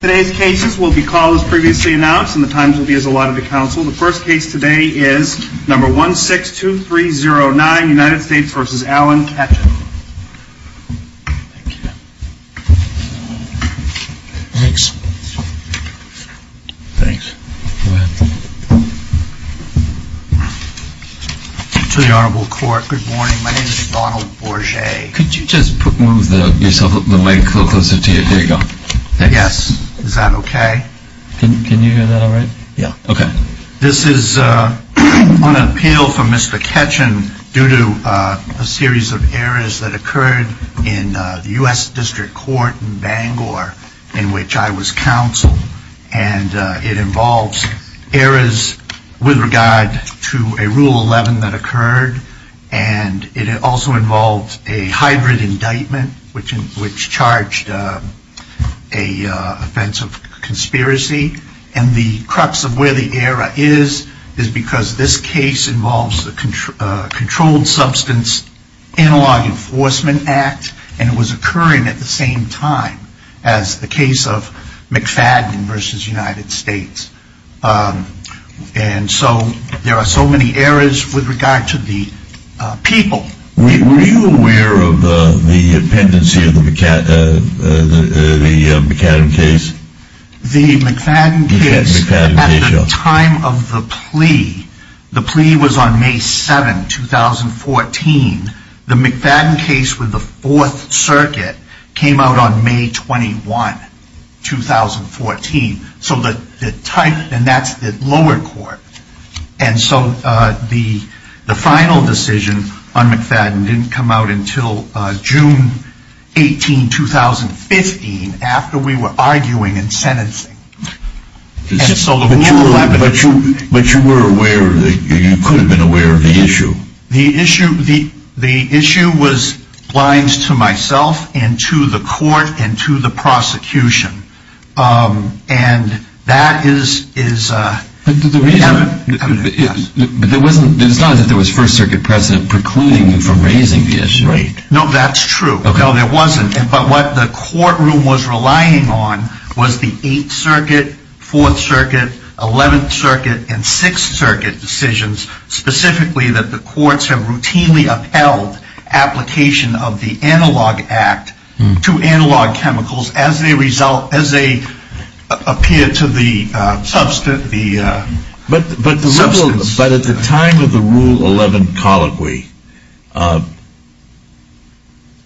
Today's cases will be called as previously announced and the times will be as allotted to counsel. The first case today is number 162309, United States v. Alan Ketchen. Thank you. Thanks. Thanks. Go ahead. To the Honorable Court, good morning. My name is Donald Bourget. Could you just move the mic a little closer to you? There you go. Yes. Is that okay? Can you hear that all right? Yeah. Okay. This is on appeal for Mr. Ketchen due to a series of errors that occurred in the U.S. District Court in Bangor, in which I was counsel, and it involves errors with regard to a Rule 11 that occurred, and it also involved a hybrid indictment, which charged a offense of conspiracy. And the crux of where the error is, is because this case involves the Controlled Substance Analog Enforcement Act, and it was occurring at the same time as the case of McFadden v. United States. And so there are so many errors with regard to the people. Were you aware of the pendency of the McFadden case? The McFadden case, at the time of the plea, the plea was on May 7, 2014. The McFadden case with the Fourth Circuit came out on May 21, 2014. So the type, and that's the lower court. And so the final decision on McFadden didn't come out until June 18, 2015, after we were arguing and sentencing. But you were aware, you could have been aware of the issue. The issue was blinds to myself, and to the court, and to the prosecution. And that is... But there wasn't, it's not as if there was First Circuit precedent precluding you from raising the issue, right? No, that's true. No, there wasn't. But what the courtroom was relying on was the Eighth Circuit, Fourth Circuit, Eleventh Circuit, and Sixth Circuit decisions, specifically that the courts have routinely upheld application of the Analog Act to analog chemicals as they appear to the substance. But at the time of the Rule 11 colloquy,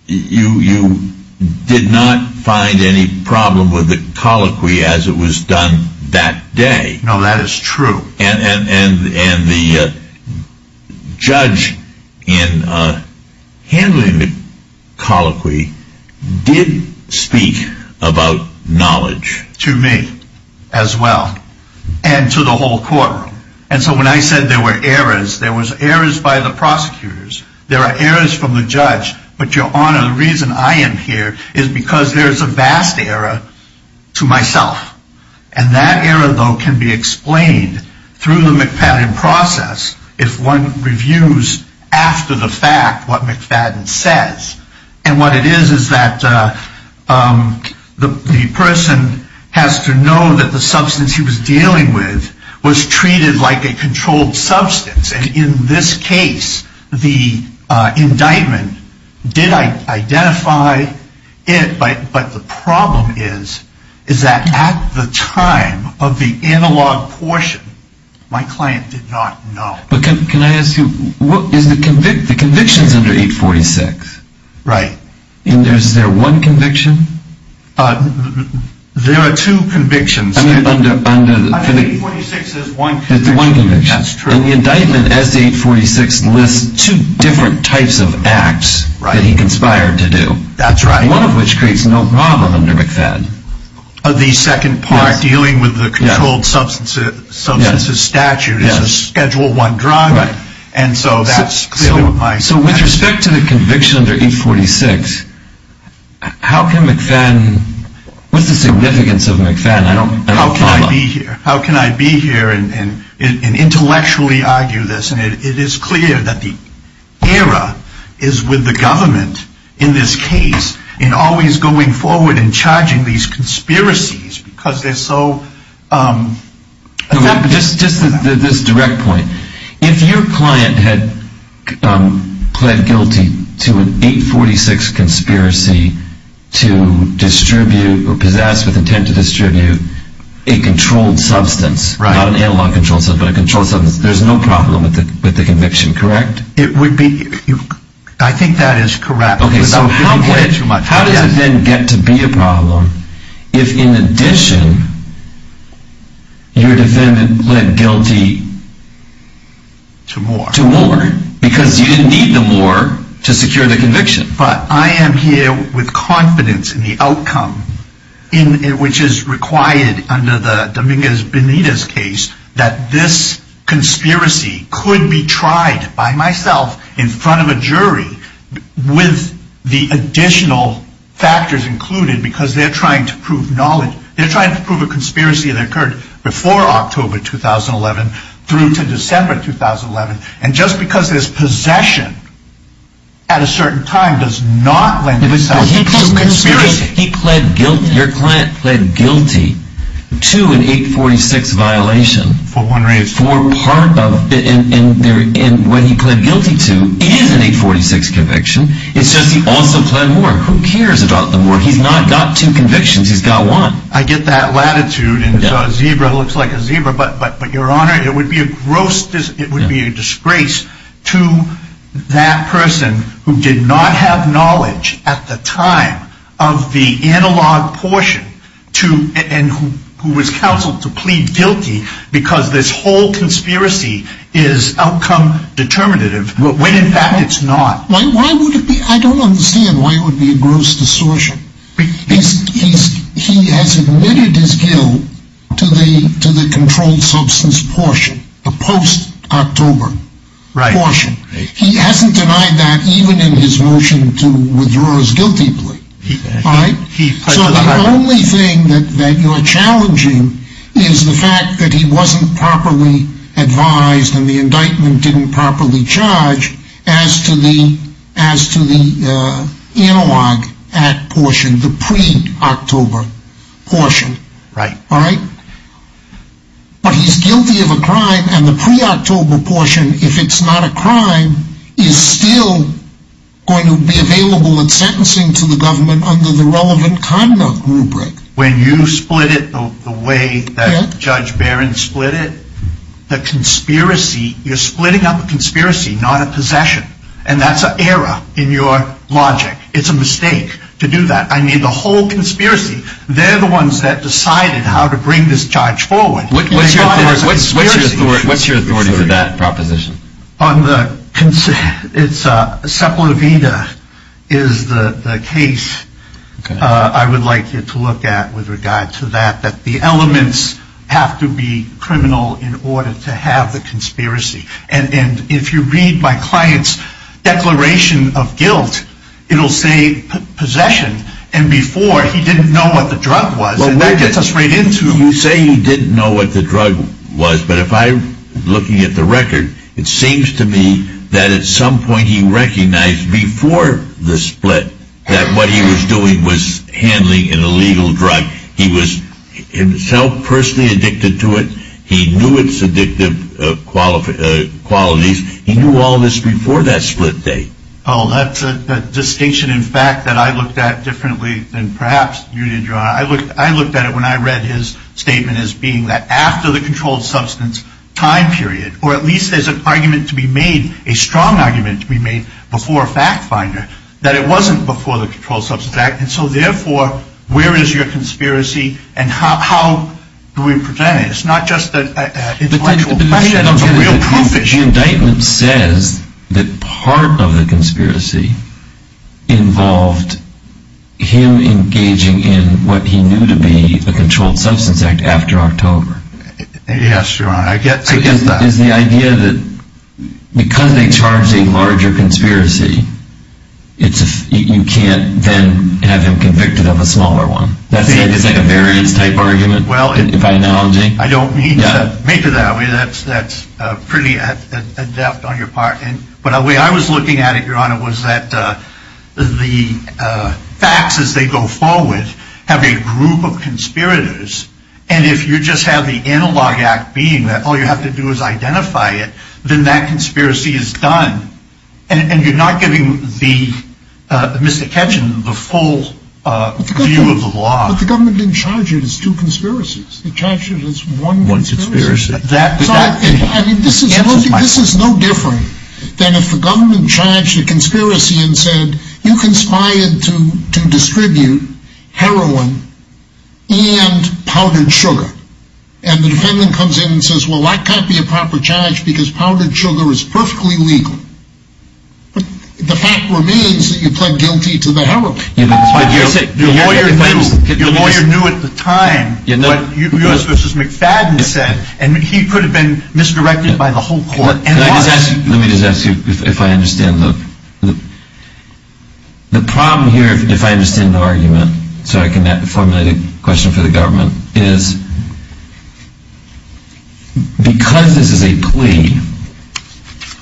you did not find any problem with the colloquy as it was done that day. No, that is true. And the judge in handling the colloquy did speak about knowledge. To me as well, and to the whole courtroom. And so when I said there were errors, there was errors by the prosecutors, there are errors from the judge. But your Honor, the reason I am here is because there is a vast error to myself. And that error, though, can be explained through the McFadden process if one reviews after the fact what McFadden says. And what it is is that the person has to know that the substance he was dealing with was treated like a controlled substance. And in this case, the indictment did identify it, but the problem is that at the time of the analog portion, my client did not know. But can I ask you, the conviction is under 846. Right. And is there one conviction? There are two convictions. Under 846 there is one conviction. And the indictment as to 846 lists two different types of acts that he conspired to do. That is right. One of which creates no problem under McFadden. The second part dealing with the controlled substances statute is a schedule one drug. So with respect to the conviction under 846, how can McFadden, what is the significance of McFadden? How can I be here and intellectually argue this? And it is clear that the error is with the government in this case in always going forward and charging these conspiracies because they're so... A controlled substance. Right. Not an analog controlled substance, but a controlled substance. There is no problem with the conviction, correct? I think that is correct. Okay, so how does it then get to be a problem if in addition your defendant led guilty to war? To war. Because you didn't need the war to secure the conviction. But I am here with confidence in the outcome, which is required under the Dominguez Benitez case, that this conspiracy could be tried by myself in front of a jury with the additional factors included because they're trying to prove knowledge. They're trying to prove a conspiracy that occurred before October 2011 through to December 2011. And just because there's possession at a certain time does not lend itself to conspiracy. He pled guilty, your client pled guilty to an 846 violation. For one reason. For part of, and when he pled guilty to, it is an 846 conviction. It's just he also pled war. Who cares about the war? He's not got two convictions, he's got one. I get that latitude and a zebra looks like a zebra, but your honor, it would be a gross, it would be a disgrace to that person who did not have knowledge at the time of the analog portion and who was counseled to plead guilty because this whole conspiracy is outcome determinative when in fact it's not. I don't understand why it would be a gross distortion. He has admitted his guilt to the controlled substance portion, the post-October portion. He hasn't denied that even in his motion to withdraw his guilty plea. So the only thing that you're challenging is the fact that he wasn't properly advised and the indictment didn't properly charge as to the analog act portion, the pre-October portion. Right. Right? But he's guilty of a crime and the pre-October portion, if it's not a crime, is still going to be available in sentencing to the government under the relevant conduct rubric. When you split it the way that Judge Barron split it, the conspiracy, you're splitting up a conspiracy, not a possession, and that's an error in your logic. It's a mistake to do that. I mean, the whole conspiracy, they're the ones that decided how to bring this charge forward. What's your authority for that proposition? Sepulveda is the case I would like you to look at with regard to that, that the elements have to be criminal in order to have the conspiracy. And if you read my client's declaration of guilt, it'll say possession, and before he didn't know what the drug was, and that gets us right into it. Well, you say he didn't know what the drug was, but if I'm looking at the record, it seems to me that at some point he recognized before the split that what he was doing was handling an illegal drug. He was himself personally addicted to it. He knew its addictive qualities. He knew all this before that split day. Oh, that's a distinction in fact that I looked at differently than perhaps you did, John. I looked at it when I read his statement as being that after the controlled substance time period, or at least there's an argument to be made, a strong argument to be made before a fact finder, that it wasn't before the controlled substance act. And so therefore, where is your conspiracy and how do we present it? It's not just an intellectual question, it's a real proof issue. The indictment says that part of the conspiracy involved him engaging in what he knew to be the controlled substance act after October. Yes, your honor, I get that. Is the idea that because they charge a larger conspiracy, you can't then have him convicted of a smaller one? Is that a variance type argument by analogy? I don't mean to make it that way. That's pretty adept on your part. But the way I was looking at it, your honor, was that the facts as they go forward have a group of conspirators. And if you just have the analog act being that all you have to do is identify it, then that conspiracy is done. And you're not giving Mr. Ketcham the full view of the law. But the government didn't charge it as two conspiracies. They charged it as one conspiracy. This is no different than if the government charged a conspiracy and said, you conspired to distribute heroin and powdered sugar. And the defendant comes in and says, well, that can't be a proper charge because powdered sugar is perfectly legal. But the fact remains that you pled guilty to the heroin. Your lawyer knew at the time what U.S. v. McFadden said, and he could have been misdirected by the whole court and lost. Let me just ask you if I understand. The problem here, if I understand the argument, so I can formulate a question for the government, is because this is a plea,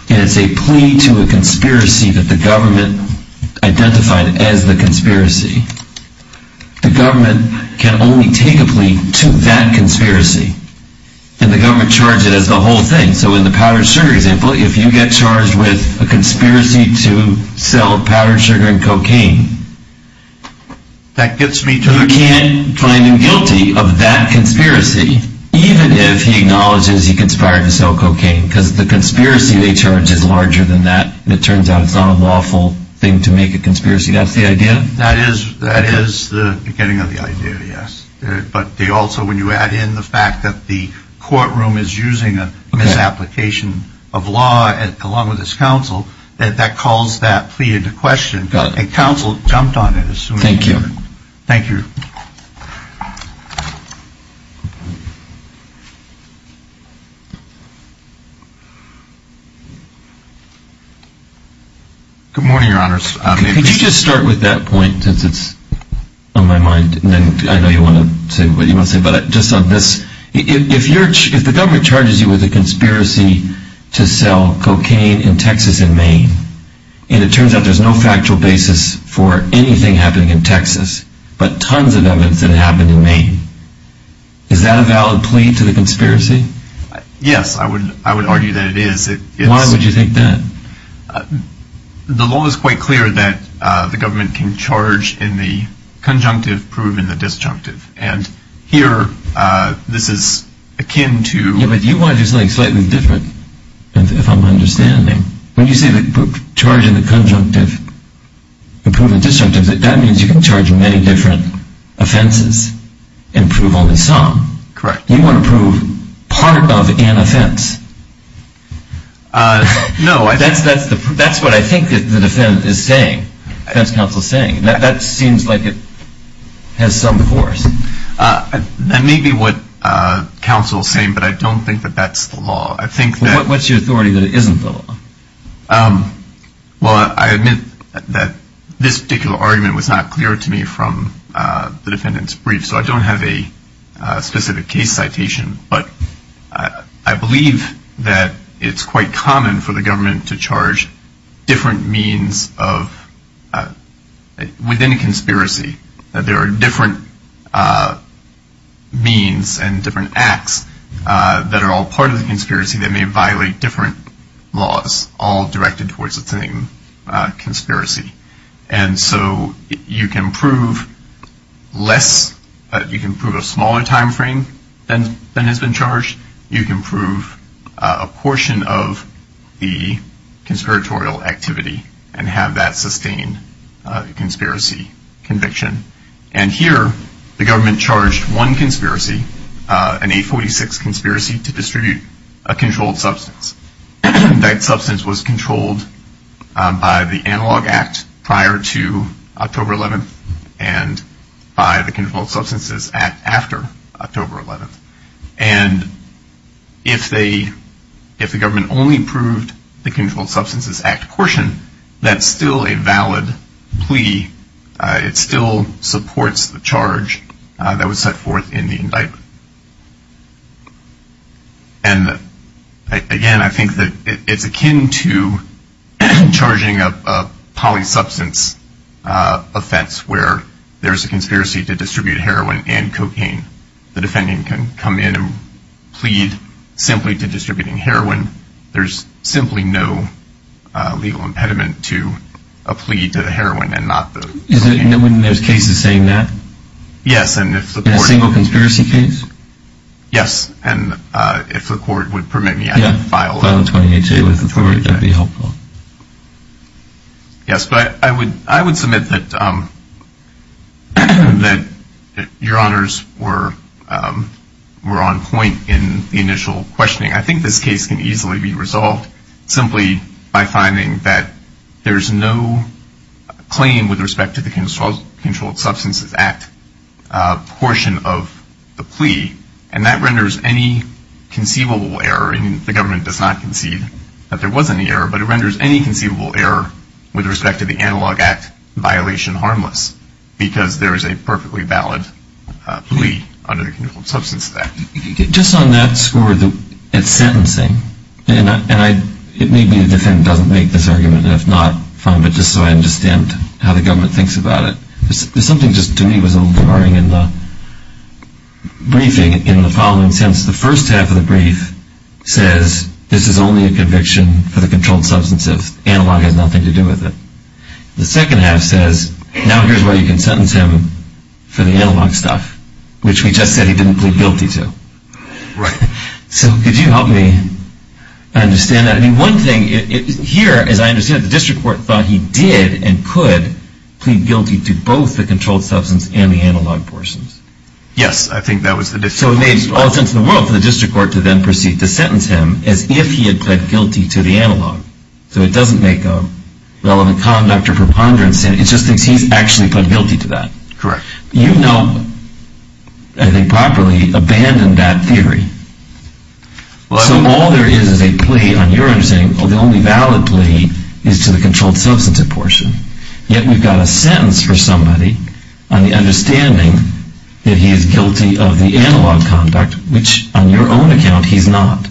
and it's a plea to a conspiracy that the government identified as the conspiracy, the government can only take a plea to that conspiracy. And the government charged it as the whole thing. So in the powdered sugar example, if you get charged with a conspiracy to sell powdered sugar and cocaine, you can't find him guilty of that conspiracy, even if he acknowledges he conspired to sell cocaine, because the conspiracy they charge is larger than that, and it turns out it's not a lawful thing to make a conspiracy. That's the idea? That is the beginning of the idea, yes. But they also, when you add in the fact that the courtroom is using a misapplication of law, along with its counsel, that that calls that plea into question. And counsel jumped on it. Thank you. Good morning, Your Honors. Could you just start with that point, since it's on my mind, and then I know you want to say what you want to say, but just on this, if the government charges you with a conspiracy to sell cocaine in Texas and Maine, and it turns out there's no factual basis for anything happening in Texas, but tons of evidence that it happened in Maine, is that a valid plea to the conspiracy? Yes, I would argue that it is. Why would you think that? The law is quite clear that the government can charge in the conjunctive, prove in the disjunctive, and here this is akin to... Yeah, but you want to do something slightly different, if I'm understanding. When you say charge in the conjunctive and prove in the disjunctive, that means you can charge many different offenses and prove only some. Correct. You want to prove part of an offense. No. That's what I think the defense counsel is saying. That seems like it has some force. That may be what counsel is saying, but I don't think that that's the law. What's your authority that it isn't the law? Well, I admit that this particular argument was not clear to me from the defendant's brief, so I don't have a specific case citation, but I believe that it's quite common for the government to charge different means within a conspiracy. There are different means and different acts that are all part of the conspiracy that may violate different laws, all directed towards the same conspiracy. And so you can prove less, you can prove a smaller time frame than has been charged, you can prove a portion of the conspiratorial activity and have that sustain a conspiracy conviction. And here the government charged one conspiracy, an 846 conspiracy, to distribute a controlled substance. That substance was controlled by the Analog Act prior to October 11th and by the Controlled Substances Act after October 11th. And if the government only proved the Controlled Substances Act portion, that's still a valid plea. It still supports the charge that was set forth in the indictment. And again, I think that it's akin to charging a polysubstance offense where there's a conspiracy to distribute heroin and cocaine. The defendant can come in and plead simply to distributing heroin. There's simply no legal impediment to a plea to the heroin and not the cocaine. Isn't it when there's cases saying that? Yes. In a single conspiracy case? Yes. And if the court would permit me, I can file a 28-2 with the court. That would be helpful. Yes. I would submit that Your Honors were on point in the initial questioning. I think this case can easily be resolved simply by finding that there's no claim with respect to the Controlled Substances Act portion of the plea, and that renders any conceivable error, and the government does not concede that there was any error, but it renders any conceivable error with respect to the Analog Act violation harmless because there is a perfectly valid plea under the Controlled Substances Act. Just on that score, it's sentencing, and maybe the defendant doesn't make this argument, and if not, fine, but just so I understand how the government thinks about it. There's something just to me that was a little jarring in the briefing in the following sense. The first half of the brief says, this is only a conviction for the controlled substance if analog has nothing to do with it. The second half says, now here's where you can sentence him for the analog stuff, which we just said he didn't plead guilty to. Right. So could you help me understand that? I mean, one thing here is I understand that the district court thought he did and could plead guilty to both the controlled substance and the analog portions. Yes, I think that was the district court. So it made all sense in the world for the district court to then proceed to sentence him as if he had pled guilty to the analog. So it doesn't make a relevant conduct or preponderance, it just thinks he's actually pled guilty to that. Correct. You've now, I think properly, abandoned that theory. So all there is is a plea on your understanding, the only valid plea is to the controlled substance portion, yet we've got a sentence for somebody on the understanding that he is guilty of the analog conduct, which on your own account he's not.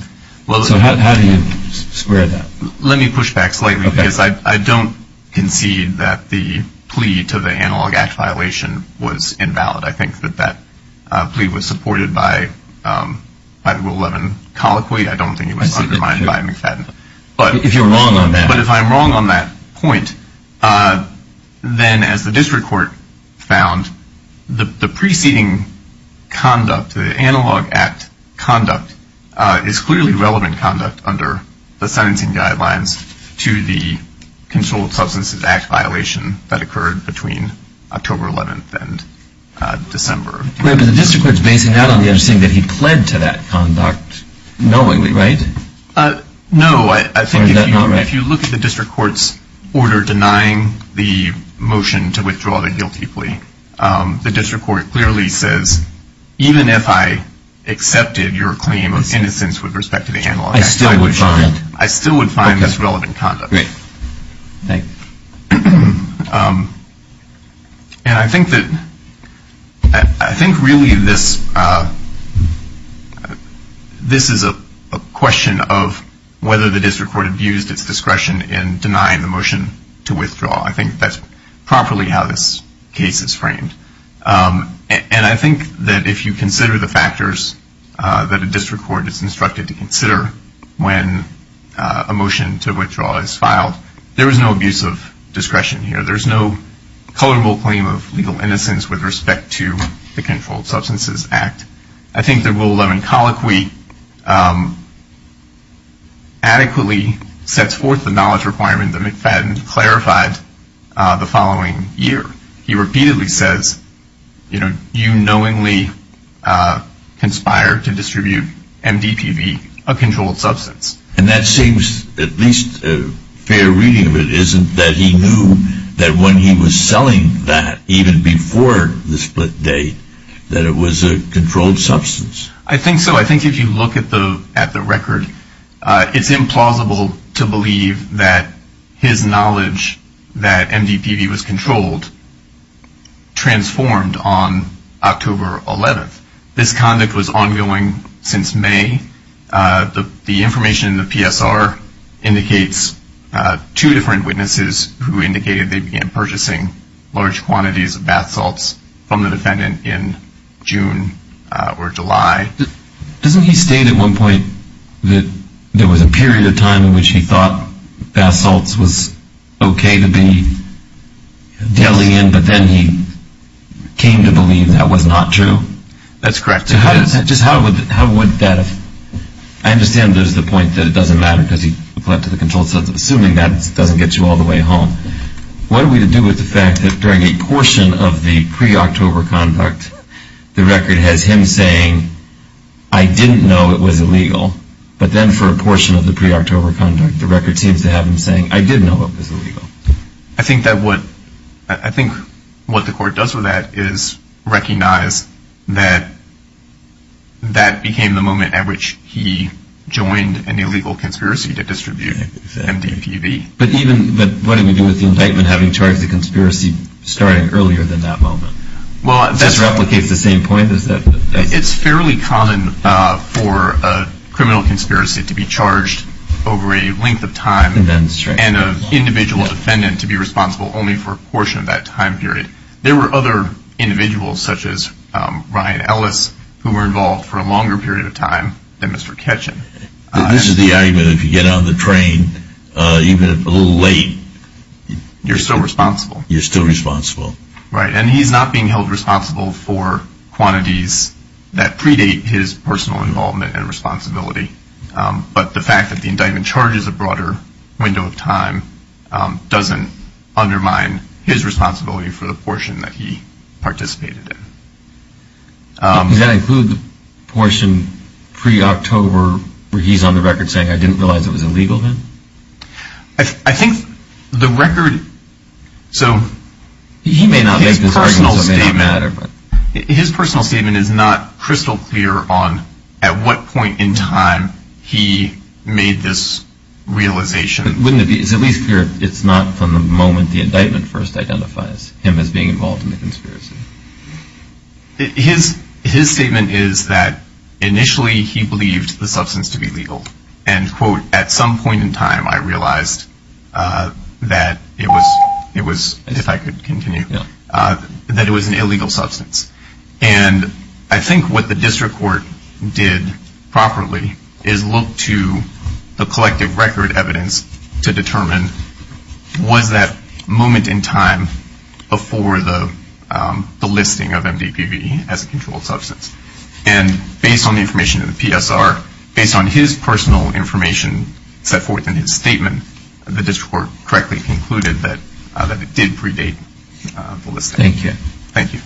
So how do you square that? Let me push back slightly because I don't concede that the plea to the analog act violation was invalid. I think that that plea was supported by Rule 11 colloquy. I don't think it was undermined by McFadden. If you're wrong on that. But if I'm wrong on that point, then as the district court found, the preceding conduct, the analog act conduct, is clearly relevant conduct under the sentencing guidelines to the controlled substances act violation that occurred between October 11th and December. But the district court is basing that on the understanding that he pled to that conduct knowingly, right? No, I think if you look at the district court's order denying the motion to withdraw the guilty plea, the district court clearly says even if I accepted your claim of innocence with respect to the analog act, I still would find this relevant conduct. Great. Thanks. And I think really this is a question of whether the district court abused its discretion in denying the motion to withdraw. I think that's properly how this case is framed. And I think that if you consider the factors that a district court is instructed to consider when a motion to withdraw is filed, there is no abuse of discretion here. There's no culpable claim of legal innocence with respect to the controlled substances act. I think the Rule 11 colloquy adequately sets forth the knowledge requirement that McFadden clarified the following year. He repeatedly says, you know, you knowingly conspire to distribute MDPV, a controlled substance. And that seems, at least a fair reading of it, isn't that he knew that when he was selling that even before the split date that it was a controlled substance? I think so. I think if you look at the record, it's implausible to believe that his knowledge that MDPV was controlled transformed on October 11th. This conduct was ongoing since May. The information in the PSR indicates two different witnesses who indicated they began purchasing large quantities of bath salts from the defendant in June or July. Doesn't he state at one point that there was a period of time in which he thought bath salts was okay to be deli in, but then he came to believe that was not true? That's correct. Just how would that have? I understand there's the point that it doesn't matter because he collected the controlled substance. Assuming that doesn't get you all the way home. What do we do with the fact that during a portion of the pre-October conduct, the record has him saying, I didn't know it was illegal. But then for a portion of the pre-October conduct, the record seems to have him saying, I did know it was illegal. I think what the court does with that is recognize that that became the moment at which he joined an illegal conspiracy to distribute MDPV. But what do we do with the indictment having charged the conspiracy starting earlier than that moment? Does this replicate the same point? It's fairly common for a criminal conspiracy to be charged over a length of time and an individual defendant to be responsible only for a portion of that time period. There were other individuals such as Ryan Ellis who were involved for a longer period of time than Mr. Ketchum. This is the argument that if you get on the train, even if a little late, you're still responsible. You're still responsible. Right, and he's not being held responsible for quantities that predate his personal involvement and responsibility. But the fact that the indictment charges a broader window of time doesn't undermine his responsibility for the portion that he participated in. Does that include the portion pre-October where he's on the record saying, I didn't realize it was illegal then? I think the record, so his personal statement is not crystal clear on at what point in time he made this realization. It's at least clear it's not from the moment the indictment first identifies him as being involved in the conspiracy. His statement is that initially he believed the substance to be legal and, quote, at some point in time I realized that it was, if I could continue, that it was an illegal substance. And I think what the district court did properly is look to the collective record evidence to determine, was that moment in time before the listing of MDPV as a controlled substance? And based on the information in the PSR, based on his personal information set forth in his statement, the district court correctly concluded that it did predate the listing. Thank you. Thank you.